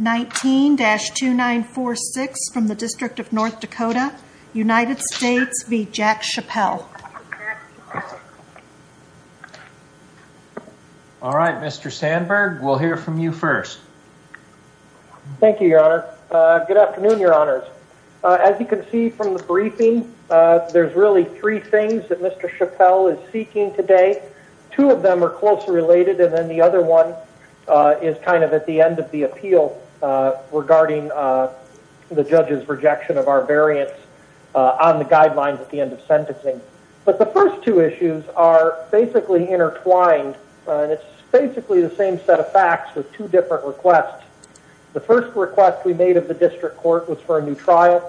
19-2946 from the District of North Dakota, United States v. Jack Chappell. All right, Mr. Sandberg, we'll hear from you first. Thank you, Your Honor. Good afternoon, Your Honors. As you can see from the briefing, there's really three things that Mr. Chappell is seeking today. Two of them are closely related, and then the other one is kind of at the end of the appeal regarding the judge's rejection of our variance on the guidelines at the end of sentencing. But the first two issues are basically intertwined, and it's basically the same set of facts with two different requests. The first request we made of the district court was for a new trial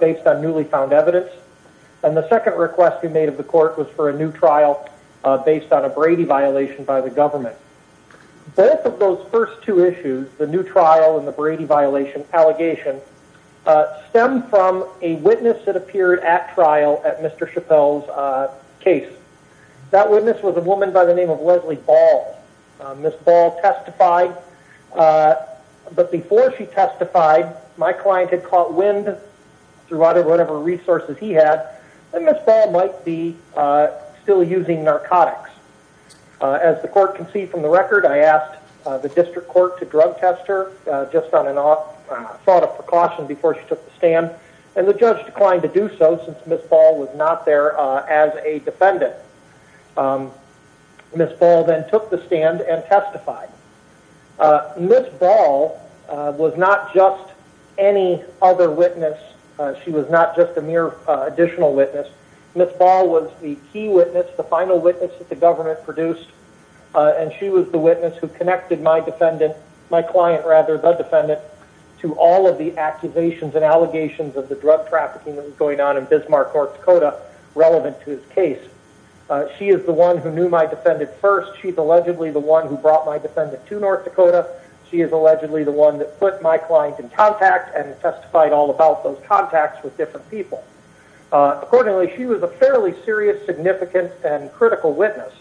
based on newly found evidence, and the second request we made of the court was for a new trial based on a Brady violation by the government. Both of those first two issues, the new trial and the Brady violation allegation, stem from a witness that appeared at trial at Mr. Chappell's case. That witness was a woman by the name of Leslie Ball. Ms. Ball testified, but before she testified, my client had caught wind through whatever resources he had that Ms. Ball might be still using narcotics. As the court can see from the record, I asked the district court to drug test her just on a thought of precaution before she took the stand, and the judge declined to do so since Ms. Ball was not there as a defendant. Ms. Ball then took the stand and testified. Ms. Ball was not just any other witness. She was not just a mere additional witness. Ms. Ball was the key witness, the final witness that the government produced, and she was the witness who connected my client, the defendant, to all of the accusations and allegations of the drug trafficking that was going on in Bismarck, North Dakota, relevant to his case. She is the one who knew my defendant first. She's allegedly the one who brought my defendant to North Dakota. She is allegedly the one that put my client in contact and testified all about those contacts with different people. Accordingly, she was a fairly serious, significant, and critical witness.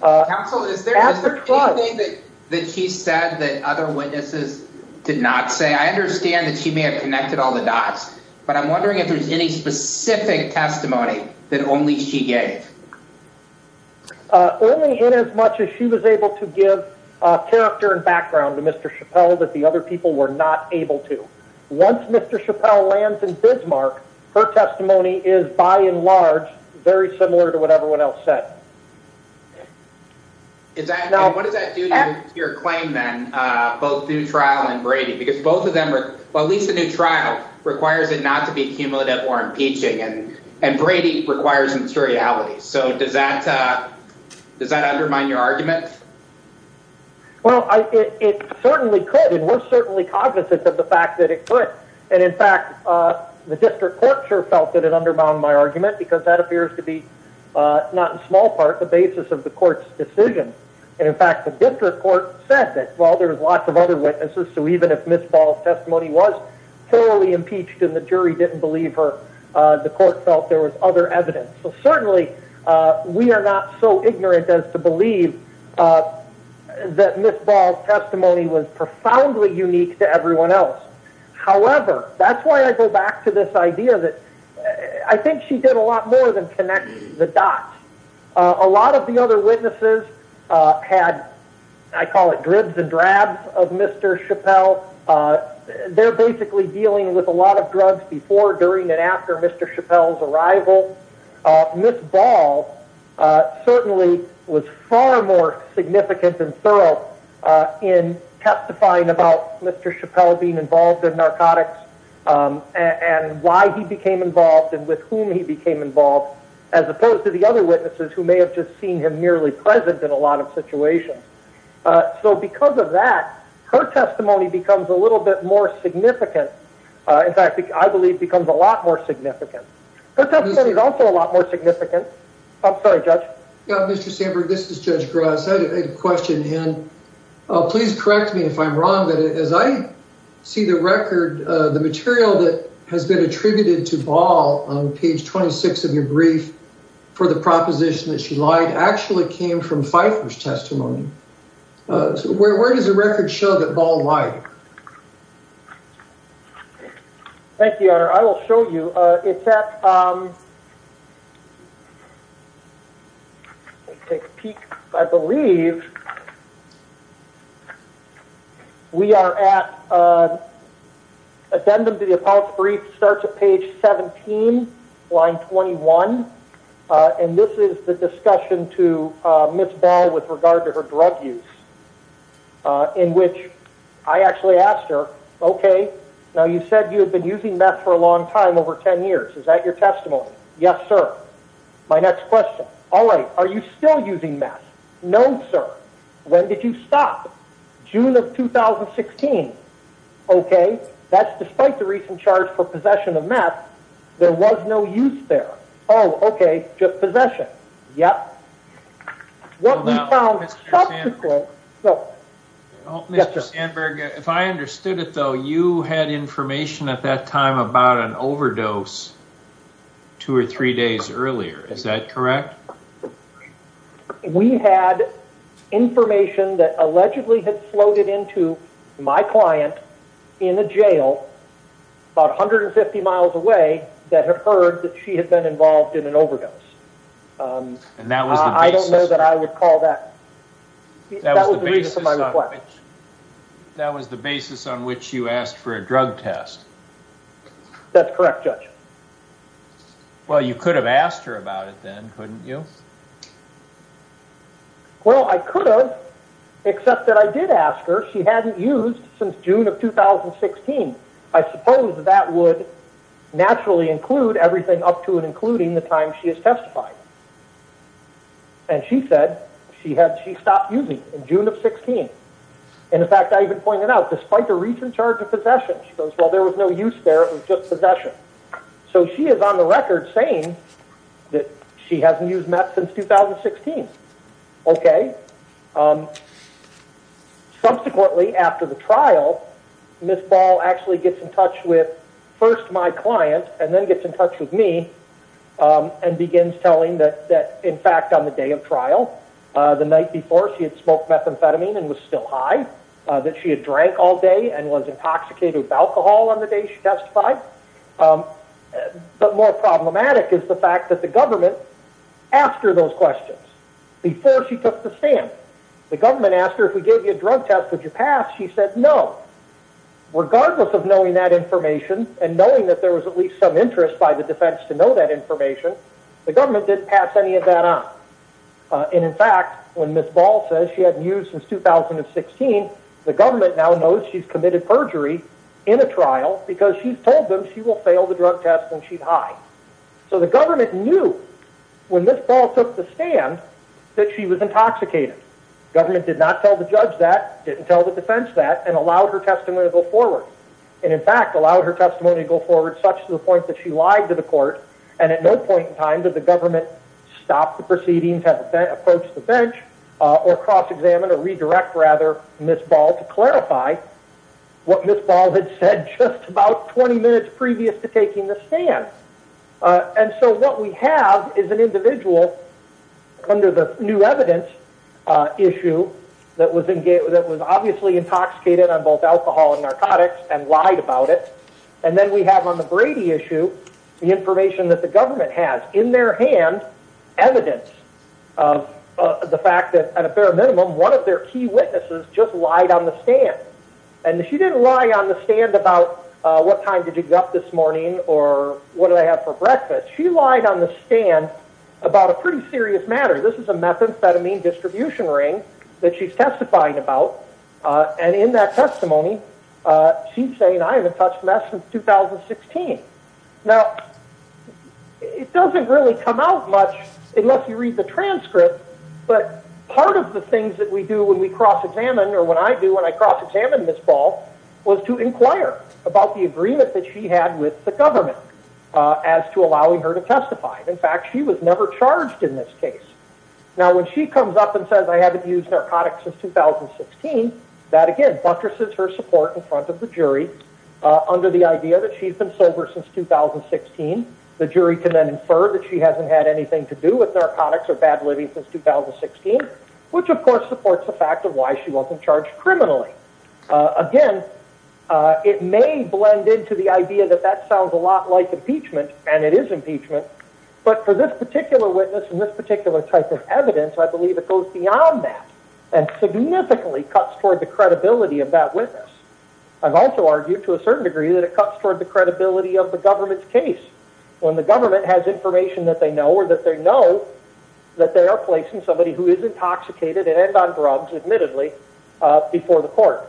Counsel, is there anything that she said that other witnesses did not say? I understand that she may have connected all the dots, but I'm wondering if there's any specific testimony that only she gave. Only in as much as she was able to give character and background to Mr. Chappelle that the other were not able to. Once Mr. Chappelle lands in Bismarck, her testimony is, by and large, very similar to what everyone else said. What does that do to your claim, then, both new trial and Brady? Because both of them are, well, at least the new trial requires it not to be cumulative or impeaching, and Brady requires materiality. So does that undermine your argument? Well, it certainly could, and we're certainly cognizant of the fact that it could. And in fact, the district court sure felt that it undermined my argument, because that appears to be, not in small part, the basis of the court's decision. And in fact, the district court said that, well, there's lots of other witnesses, so even if Ms. Ball's testimony was thoroughly impeached and the jury didn't believe her, the court felt there was other evidence. So certainly, we are not so ignorant as to believe that Ms. Ball's testimony was profoundly unique to everyone else. However, that's why I go back to this idea that I think she did a lot more than connect the dots. A lot of the other witnesses had, I call it, dribs and drabs of Mr. Chappelle. They're basically dealing with a lot of drugs before, during, and after Mr. Chappelle's arrival. Ms. Ball certainly was far more significant and thorough in testifying about Mr. Chappelle being involved in narcotics and why he became involved and with whom he became involved, as opposed to the other witnesses who may have just seen him merely present in a lot of situations. So because of that, her testimony becomes a little bit more significant. In fact, I believe it becomes a lot more significant. Her testimony is also a lot more significant. I'm sorry, Judge. Mr. Sandberg, this is Judge Gross. I had a question, and please correct me if I'm wrong, but as I see the record, the material that has been attributed to Ball on page 26 of your brief for the proposition that she lied actually came from Pfeiffer's testimony. Where does the record show that Ball lied? Thank you, Your Honor. I will show you. It's at, I believe, we are at addendum to the appellate brief, starts at page 17, line 21, and this is the discussion to Ms. Ball with regard to her drug use, in which I actually asked her, okay, now you said you had been using meth for a long time, over 10 years. Is that your testimony? Yes, sir. My next question, all right, are you still using meth? No, sir. When did you stop? June of 2016. Okay. That's despite the recent charge for possession of meth, there was no use there. Oh, okay, just possession. Yep. Well, now, Mr. Sandberg, if I understood it, though, you had information at that time about an overdose two or three days earlier, is that correct? We had information that allegedly had floated into my client in a jail about 150 miles away that had heard that she had been involved in an overdose. I don't know that I would call that. That was the basis on which you asked for a drug test. That's correct, Judge. Well, you could have asked her about it then, couldn't you? Well, I could have, except that I did ask her. She hadn't used since June of 2016. I suppose that would naturally include everything up to and including the time she has testified. And she said she stopped using in June of 2016. In fact, I even pointed out, despite the recent charge of possession, she goes, well, there was no use there, it was just possession. So she is on the record saying that she hasn't used meth since 2016. Okay. Subsequently, after the trial, Ms. Ball actually gets in touch with first my client and then gets in touch with me and begins telling that, in fact, on the day of trial, the night before, she had smoked methamphetamine and was still high, that she had drank all day and was intoxicated with alcohol on the day she testified. But more problematic is the fact that the government asked her those questions before she took the stand. The government asked her, if we gave you a drug test, would you pass? She said no. Regardless of knowing that information and knowing that there was at least some interest by the defense to know that information, the government didn't pass any of that on. And in fact, when Ms. Ball says she hadn't used since 2016, the government now knows she's committed perjury in a trial because she's told them she failed the drug test and she's high. So the government knew when Ms. Ball took the stand that she was intoxicated. Government did not tell the judge that, didn't tell the defense that, and allowed her testimony to go forward. And in fact, allowed her testimony to go forward such to the point that she lied to the court and at no point in time did the government stop the proceedings, approach the bench, or cross-examine or redirect, rather, Ms. Ball to clarify what had said just about 20 minutes previous to taking the stand. And so what we have is an individual under the new evidence issue that was obviously intoxicated on both alcohol and narcotics and lied about it. And then we have on the Brady issue, the information that the government has in their hand, evidence of the fact that at a bare minimum, one of their key witnesses just lied on the stand about what time did you get up this morning or what did I have for breakfast. She lied on the stand about a pretty serious matter. This is a methamphetamine distribution ring that she's testifying about. And in that testimony, she's saying I haven't touched meth since 2016. Now, it doesn't really come out much unless you read the transcript, but part of the was to inquire about the agreement that she had with the government as to allowing her to testify. In fact, she was never charged in this case. Now, when she comes up and says I haven't used narcotics since 2016, that again buttresses her support in front of the jury under the idea that she's been sober since 2016. The jury can then infer that she hasn't had anything to do with narcotics or bad living since 2016, which of course supports the fact of why she wasn't criminally. Again, it may blend into the idea that that sounds a lot like impeachment, and it is impeachment, but for this particular witness and this particular type of evidence, I believe it goes beyond that and significantly cuts toward the credibility of that witness. I've also argued to a certain degree that it cuts toward the credibility of the government's case when the government has information that they know or that they know that they are placing somebody who is intoxicated and on drugs, admittedly, before the court.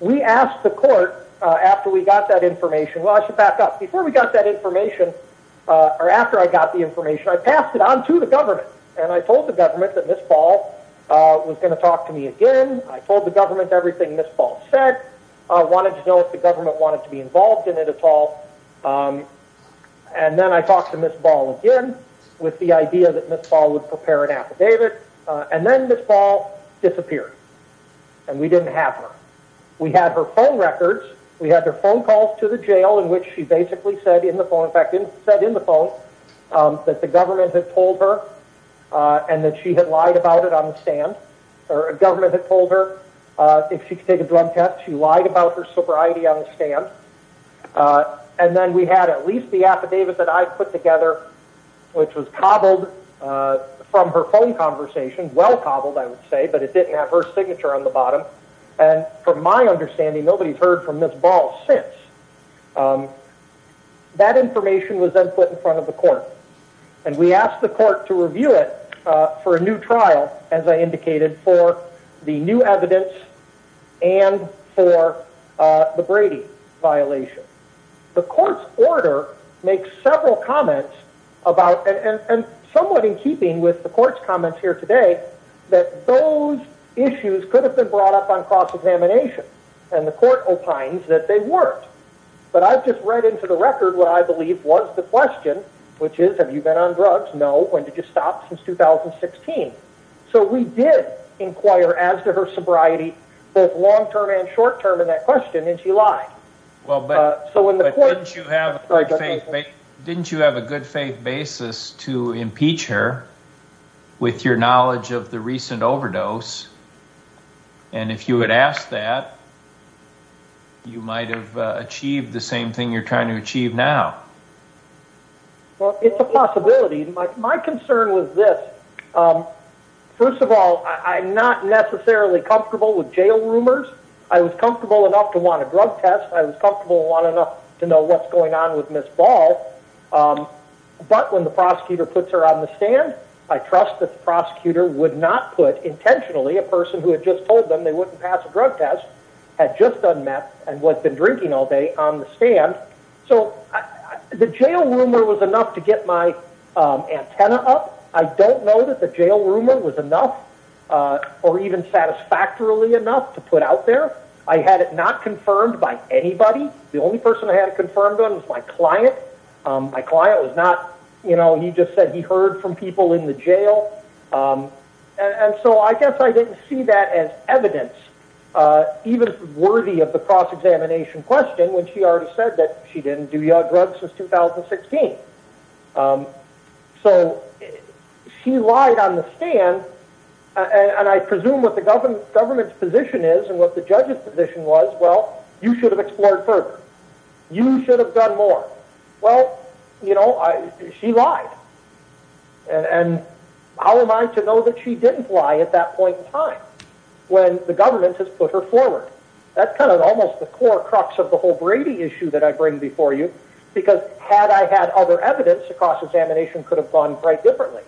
We asked the court after we got that information, well, I should back up. Before we got that information, or after I got the information, I passed it on to the government, and I told the government that Ms. Ball was going to talk to me again. I told the government everything Ms. Ball said. I wanted to know if the government wanted to be involved in it at all, and then I talked to Ms. Ball again with the idea that Ms. Ball would prepare an affidavit, and then Ms. Ball disappeared, and we didn't have her. We had her phone records. We had her phone calls to the jail in which she basically said in the phone, in fact, said in the phone that the government had told her and that she had lied about it on the stand, or the government had told her if she could take a drug test, she lied about her sobriety on the stand, and then we had at least the affidavit that I put together, which was cobbled from her phone conversation, well cobbled, I would say, but it didn't have her signature on the bottom, and from my understanding, nobody's heard from Ms. Ball since. That information was then put in front of the court, and we asked the court to review it for a new trial, as I indicated, for the new evidence and for the Brady violation. The court's order makes several comments about, and somewhat in keeping with the court's comments here today, that those issues could have been brought up on cross-examination, and the court opines that they weren't, but I've just read into the record what I believe was the question, which is, have you been on drugs? No. When did you stop? Since 2016. So we did inquire as to sobriety, both long-term and short-term in that question, and she lied. Didn't you have a good faith basis to impeach her with your knowledge of the recent overdose, and if you had asked that, you might have achieved the same thing you're trying to achieve now? Well, it's a possibility. My concern was this. First of all, I'm not necessarily comfortable with jail rumors. I was comfortable enough to want a drug test. I was comfortable enough to know what's going on with Ms. Ball, but when the prosecutor puts her on the stand, I trust that the prosecutor would not put intentionally a person who had just told them they wouldn't pass drug tests, had just done meth, and had been drinking all day on the stand. So the jail rumor was enough to get my antenna up. I don't know that the jail rumor was enough or even satisfactorily enough to put out there. I had it not confirmed by anybody. The only person I had it confirmed on was my client. My client was not, you know, he just said he heard from people in the jail, and so I guess I didn't see that as evidence even worthy of the cross-examination question when she already said that she didn't do drugs since 2016. So she lied on the stand, and I presume what the government's position is and what the judge's position was, well, you should have explored further. You should have done more. Well, you know, she lied, and how am I to know that she didn't lie at that point in time when the government has put her forward? That's kind of almost the core crux of the whole Brady issue that I bring before you, because had I had other evidence, the cross-examination could have gone quite differently,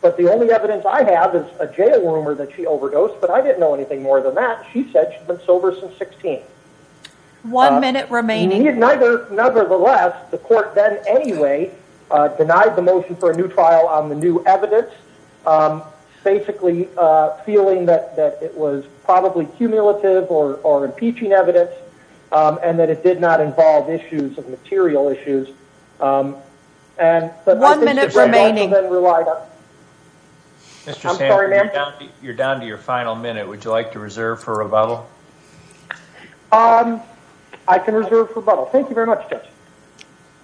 but the only evidence I have is a jail rumor that she overdosed, but I didn't know anything more than that. She said she's been sober since 16. One minute remaining. Nevertheless, the court then anyway denied the motion for a new trial on the new evidence, basically feeling that it was probably cumulative or impeaching evidence and that it did not involve issues of material issues. One minute remaining. You're down to your final minute. Would you like to reserve for rebuttal? I can reserve for rebuttal. Thank you very much, Judge.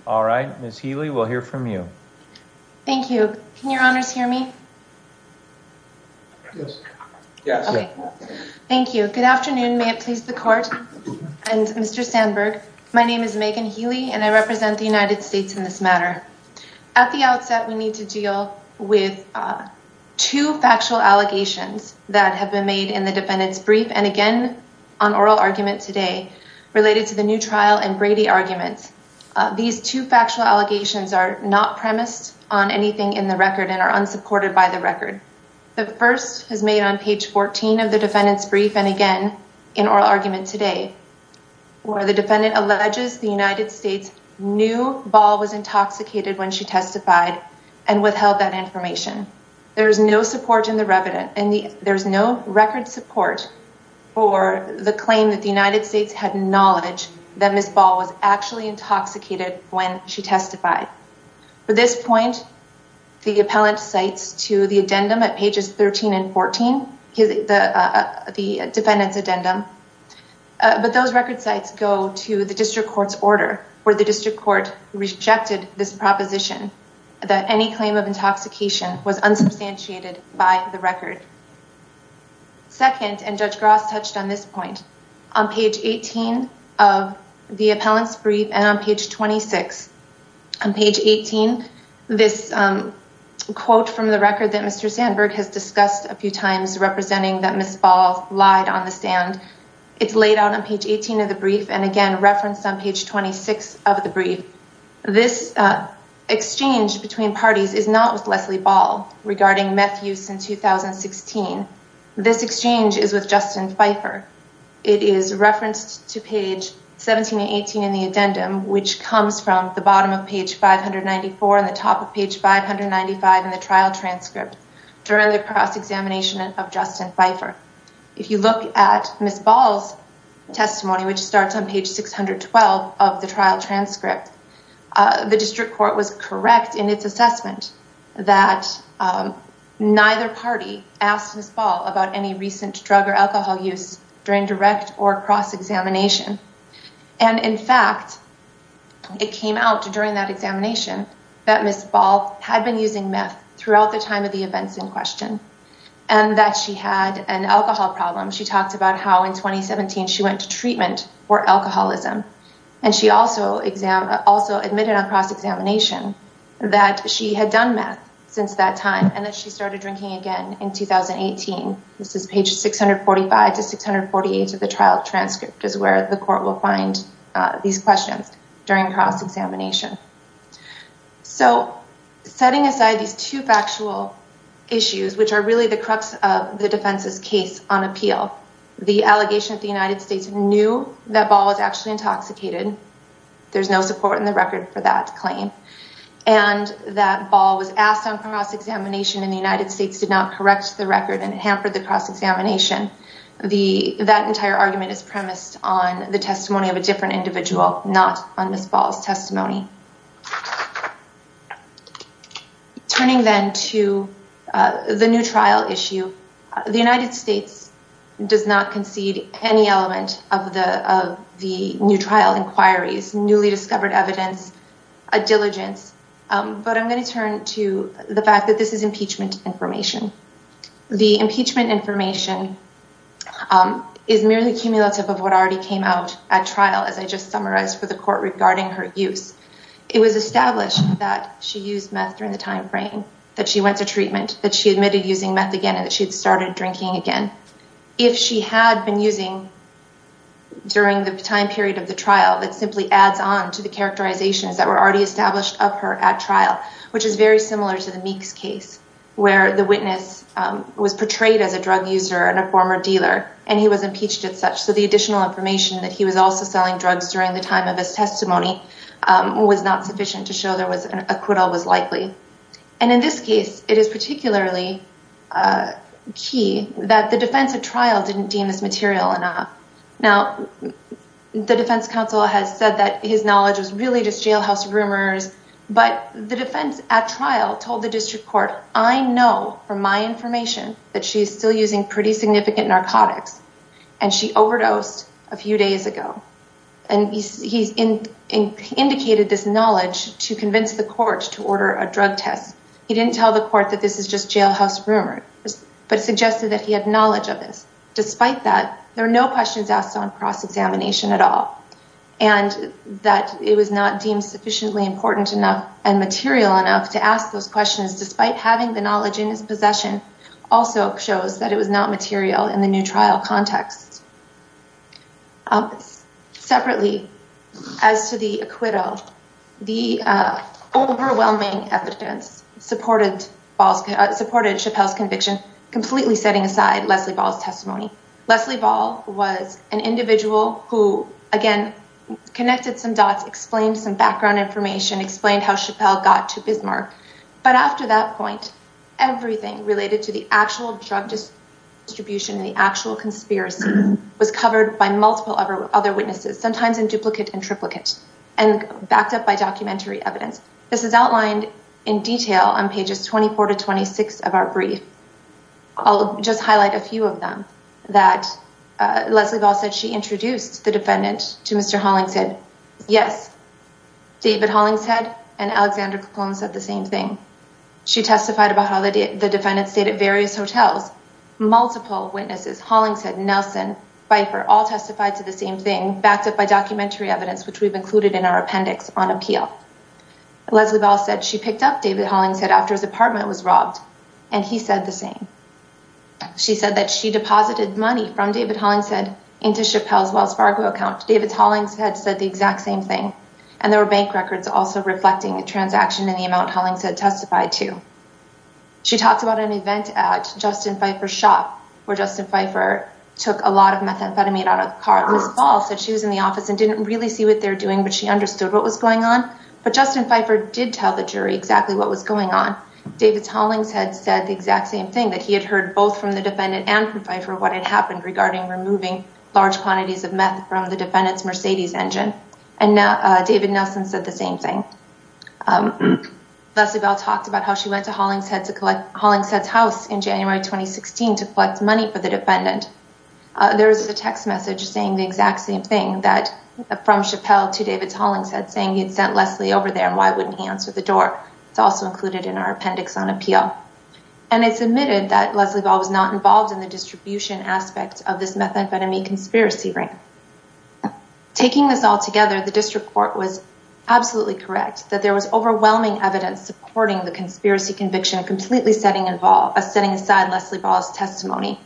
All right. Ms. Healy, we'll hear from you. Thank you. Can your honors hear me? Yes. Yes. Thank you. Good afternoon. May it please the court and Mr. Sandberg. My name is Megan Healy, and I represent the United States in this matter. At the outset, we need to deal with two factual allegations that have been made in the defendant's brief and again on oral argument today related to the new trial and Brady arguments. These two factual allegations are not premised on anything in the record and are unsupported by the record. The first is made on page 14 of the defendant's brief and again in oral argument today where the defendant alleges the United States knew Ball was intoxicated when she testified and withheld that information. There is no support in the record support for the claim that the United States had knowledge that Ms. Ball was actually intoxicated when she testified. For this point, the appellant cites to the addendum at pages 13 and 14, the defendant's addendum, but those record sites go to the district court's order where the district court rejected this proposition that any claim of intoxication was unsubstantiated by the record. Second, and Judge Gross touched on this point, on page 18 of the appellant's brief and on page 26. On page 18, this quote from the record that Mr. Sandberg has discussed a few times representing that Ms. Ball lied on the stand, it's laid out on page 18 of the brief and again referenced on page 26 of the brief. This exchange between parties is not with Leslie Ball regarding meth use in 2016. This exchange is with Justin Pfeiffer. It is referenced to page 17 and 18 in the addendum which comes from the bottom of page 594 and the top of page 595 in the trial transcript during the cross-examination of Justin Pfeiffer. If you look at Ms. Ball's testimony which starts on page 612 of the trial transcript, the district court was correct in its assessment that neither party asked Ms. Ball about any recent drug or alcohol use during direct or cross-examination and in fact, it came out during that examination that Ms. Ball had been using meth throughout the time of the events in question and that she had an alcohol problem. She talked about how in 2017 she went to treatment for alcoholism and she also admitted on cross-examination that she had done meth since that time and that she started drinking again in 2018. This is page 645 to 648 of the trial transcript is where the court will find these questions during cross-examination. So, setting aside these two factual issues which are really the crux of the defense's case on the allegation of the United States knew that Ball was actually intoxicated. There's no support in the record for that claim and that Ball was asked on cross-examination and the United States did not correct the record and hampered the cross-examination. That entire argument is premised on the testimony of a different individual, not on Ms. Ball's does not concede any element of the of the new trial inquiries, newly discovered evidence, a diligence, but I'm going to turn to the fact that this is impeachment information. The impeachment information is merely cumulative of what already came out at trial as I just summarized for the court regarding her use. It was established that she used meth during the time frame, that she went to treatment, that she admitted using meth again and that she'd drinking again. If she had been using during the time period of the trial that simply adds on to the characterizations that were already established of her at trial, which is very similar to the Meeks case where the witness was portrayed as a drug user and a former dealer and he was impeached as such. So, the additional information that he was also selling drugs during the time of his testimony was not sufficient to show there was an acquittal was likely. And in this case, it is particularly key that the defense at trial didn't deem this material enough. Now, the defense counsel has said that his knowledge was really just jailhouse rumors, but the defense at trial told the district court, I know from my information that she's still using pretty significant narcotics and she overdosed a few days ago. And he's indicated this knowledge to convince the court to order a drug test. He didn't tell the court that this is just jailhouse rumors, but it suggested that he had knowledge of this. Despite that, there are no questions asked on cross-examination at all. And that it was not deemed sufficiently important enough and material enough to ask those questions despite having the knowledge in his possession also shows that it was not material in the new trial context. Separately, as to the acquittal, the overwhelming evidence supported Chappelle's conviction, completely setting aside Leslie Ball's testimony. Leslie Ball was an individual who, again, connected some dots, explained some background information, explained how Chappelle got to Bismarck. But after that point, everything related to the actual drug distribution and the actual conspiracy was covered by multiple other witnesses, sometimes in duplicate and triplicate, and backed up by documentary evidence. This is outlined in detail on pages 24 to 26 of our brief. I'll just highlight a few of them, that Leslie Ball said she introduced the defendant to Mr. Hollingshead. Yes, David Hollingshead and Alexander Capone said the same thing. She testified about how the defendant stayed at various hotels. Multiple witnesses, Hollingshead, Nelson, Pfeiffer, all testified to the same thing, backed up by documentary evidence, which we've included in our appendix on appeal. Leslie Ball said she picked up David Hollingshead after his apartment was robbed, and he said the same. She said that she deposited money from David Hollingshead into Chappelle's Wells Fargo account. David Hollingshead said the exact same thing. And there were bank records also reflecting a transaction in the amount Hollingshead testified to. She talked about an event at Justin Pfeiffer's shop, where Justin Pfeiffer took a lot of methamphetamine out of the car. Ms. Ball said she was in the office and didn't really see what they're doing, but she understood what was going on. But Justin Pfeiffer did tell the jury exactly what was going on. David Hollingshead said the exact same thing, that he had heard both from the defendant and from Pfeiffer what had happened regarding removing large quantities of meth from the defendant's Mercedes engine. And David Nelson said the same thing. Leslie Ball talked about how she went to Hollingshead's house in January 2016 to collect money for the defendant. There was a text message saying the exact same thing, that from Chappelle to David Hollingshead, saying he had sent Leslie over there, and why wouldn't he answer the door? It's also included in our appendix on appeal. And it's admitted that Leslie Ball was not involved in the distribution aspect of this methamphetamine conspiracy ring. Taking this all together, the district court was absolutely correct, that there was overwhelming evidence supporting the conspiracy conviction completely setting aside Leslie Ball's testimony.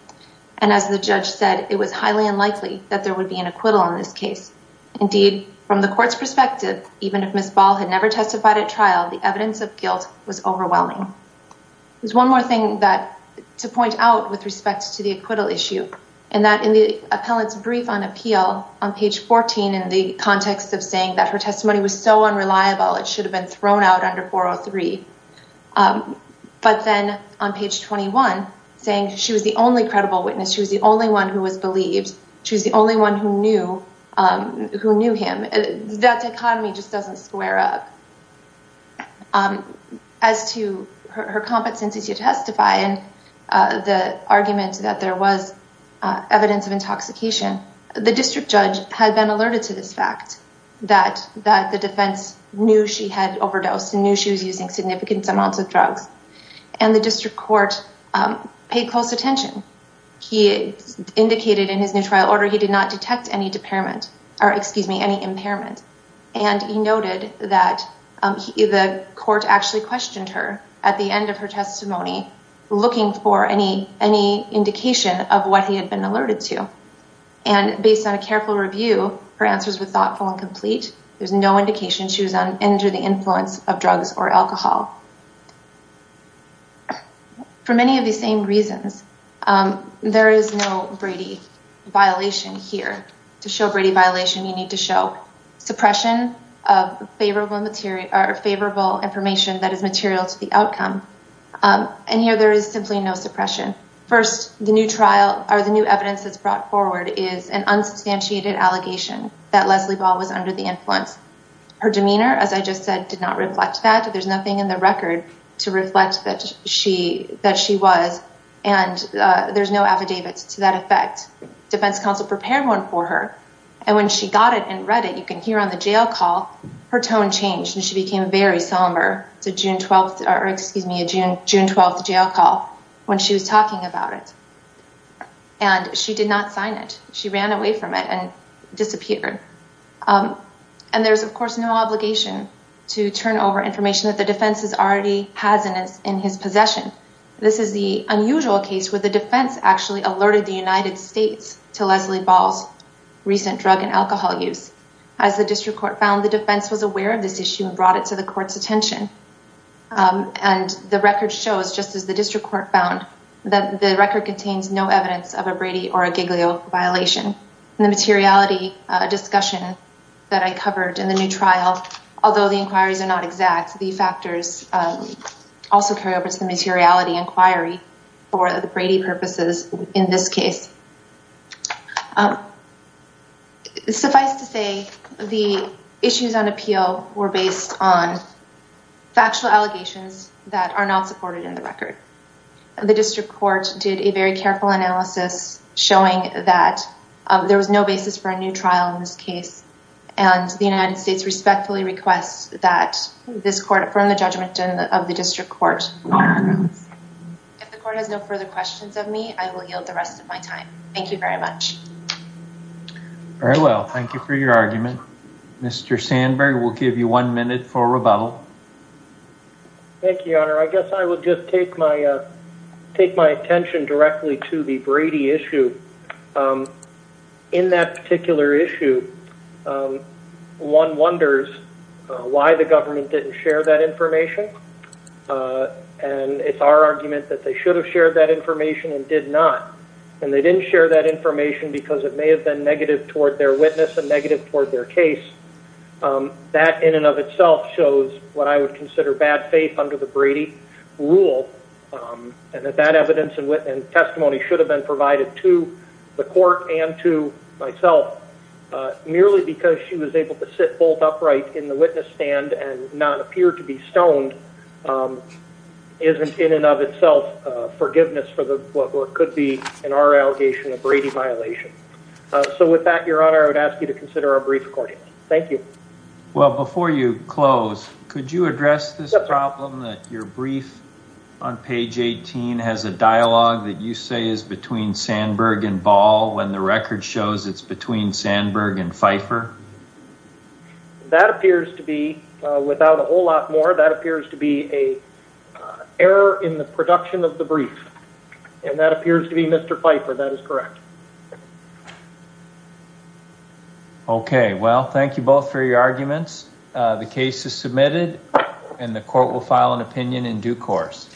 And as the judge said, it was highly unlikely that there would be an acquittal on this case. Indeed, from the court's perspective, even if Ms. Ball had never testified at trial, the evidence of guilt was overwhelming. There's one more thing to point out with respect to the acquittal issue, and that in the appellant's brief on appeal on page 14, in the context of saying that her testimony was so unreliable, it should have been thrown out under 403. But then on page 21, saying she was the only credible witness, she was the only one who was believed, she was the only one who knew him. That dichotomy just doesn't square up. As to her competency to testify and the evidence of intoxication, the district judge had been alerted to this fact, that the defense knew she had overdosed and knew she was using significant amounts of drugs. And the district court paid close attention. He indicated in his new trial order he did not detect any impairment. And he noted that the court actually questioned her at the end of her testimony, looking for any indication of what he had been alerted to. And based on a careful review, her answers were thoughtful and complete. There's no indication she was under the influence of drugs or alcohol. For many of these same reasons, there is no Brady violation here. To show Brady violation, you need to show suppression of favorable information that is material to the outcome. And here there is simply no suppression. First, the new trial or the new evidence that's brought forward is an unsubstantiated allegation that Leslie Ball was under the influence. Her demeanor, as I just said, did not reflect that. There's nothing in the record to reflect that she was. And there's no affidavits to that effect. Defense counsel prepared one for her. And when she got it and read it, you can hear on the jail call, her tone changed and she June 12th jail call when she was talking about it. And she did not sign it. She ran away from it and disappeared. And there's, of course, no obligation to turn over information that the defense already has in his possession. This is the unusual case where the defense actually alerted the United States to Leslie Ball's recent drug and alcohol use. As the district court found, the defense was aware of this issue and brought it to the court's attention. And the record shows, just as the district court found, that the record contains no evidence of a Brady or a Giglio violation. And the materiality discussion that I covered in the new trial, although the inquiries are not exact, the factors also carry over to the materiality inquiry for the Brady purposes in this case. Suffice to say, the issues on appeal were based on factual allegations that are not supported in the record. The district court did a very careful analysis showing that there was no basis for a new trial in this case. And the United States respectfully requests that this court affirm the judgment of the district court. If the court has no further questions of me, I will yield the rest of my time. Thank you very much. Very well. Thank you for your argument. Mr. Sandberg, we'll give you one minute for rebuttal. Thank you, Your Honor. I guess I will just take my attention directly to the Brady issue. In that particular issue, one wonders why the government didn't share that information. And it's our argument that they should have shared that information and did not. And they didn't share that information because it may have been negative toward their witness and negative toward their case. That in and of itself shows what I would consider bad faith under the Brady rule. And that that evidence and testimony should have been provided to the court and to myself. Merely because she was able to sit both upright in the witness stand and not appear to be stoned isn't in and of itself forgiveness for what could be, in our allegation, a Brady violation. So with that, Your Honor, I would ask you to consider our brief recording. Thank you. Well, before you close, could you address this problem that your brief on page 18 has a dialogue that you say is between Sandberg and Ball when the record shows it's between Sandberg and Pfeiffer? That appears to be, without a whole lot more, that appears to be a error in the production of the brief. And that appears to be Mr. Pfeiffer. That is correct. Okay. Well, thank you both for your arguments. The case is submitted and the court will file an opinion in due course.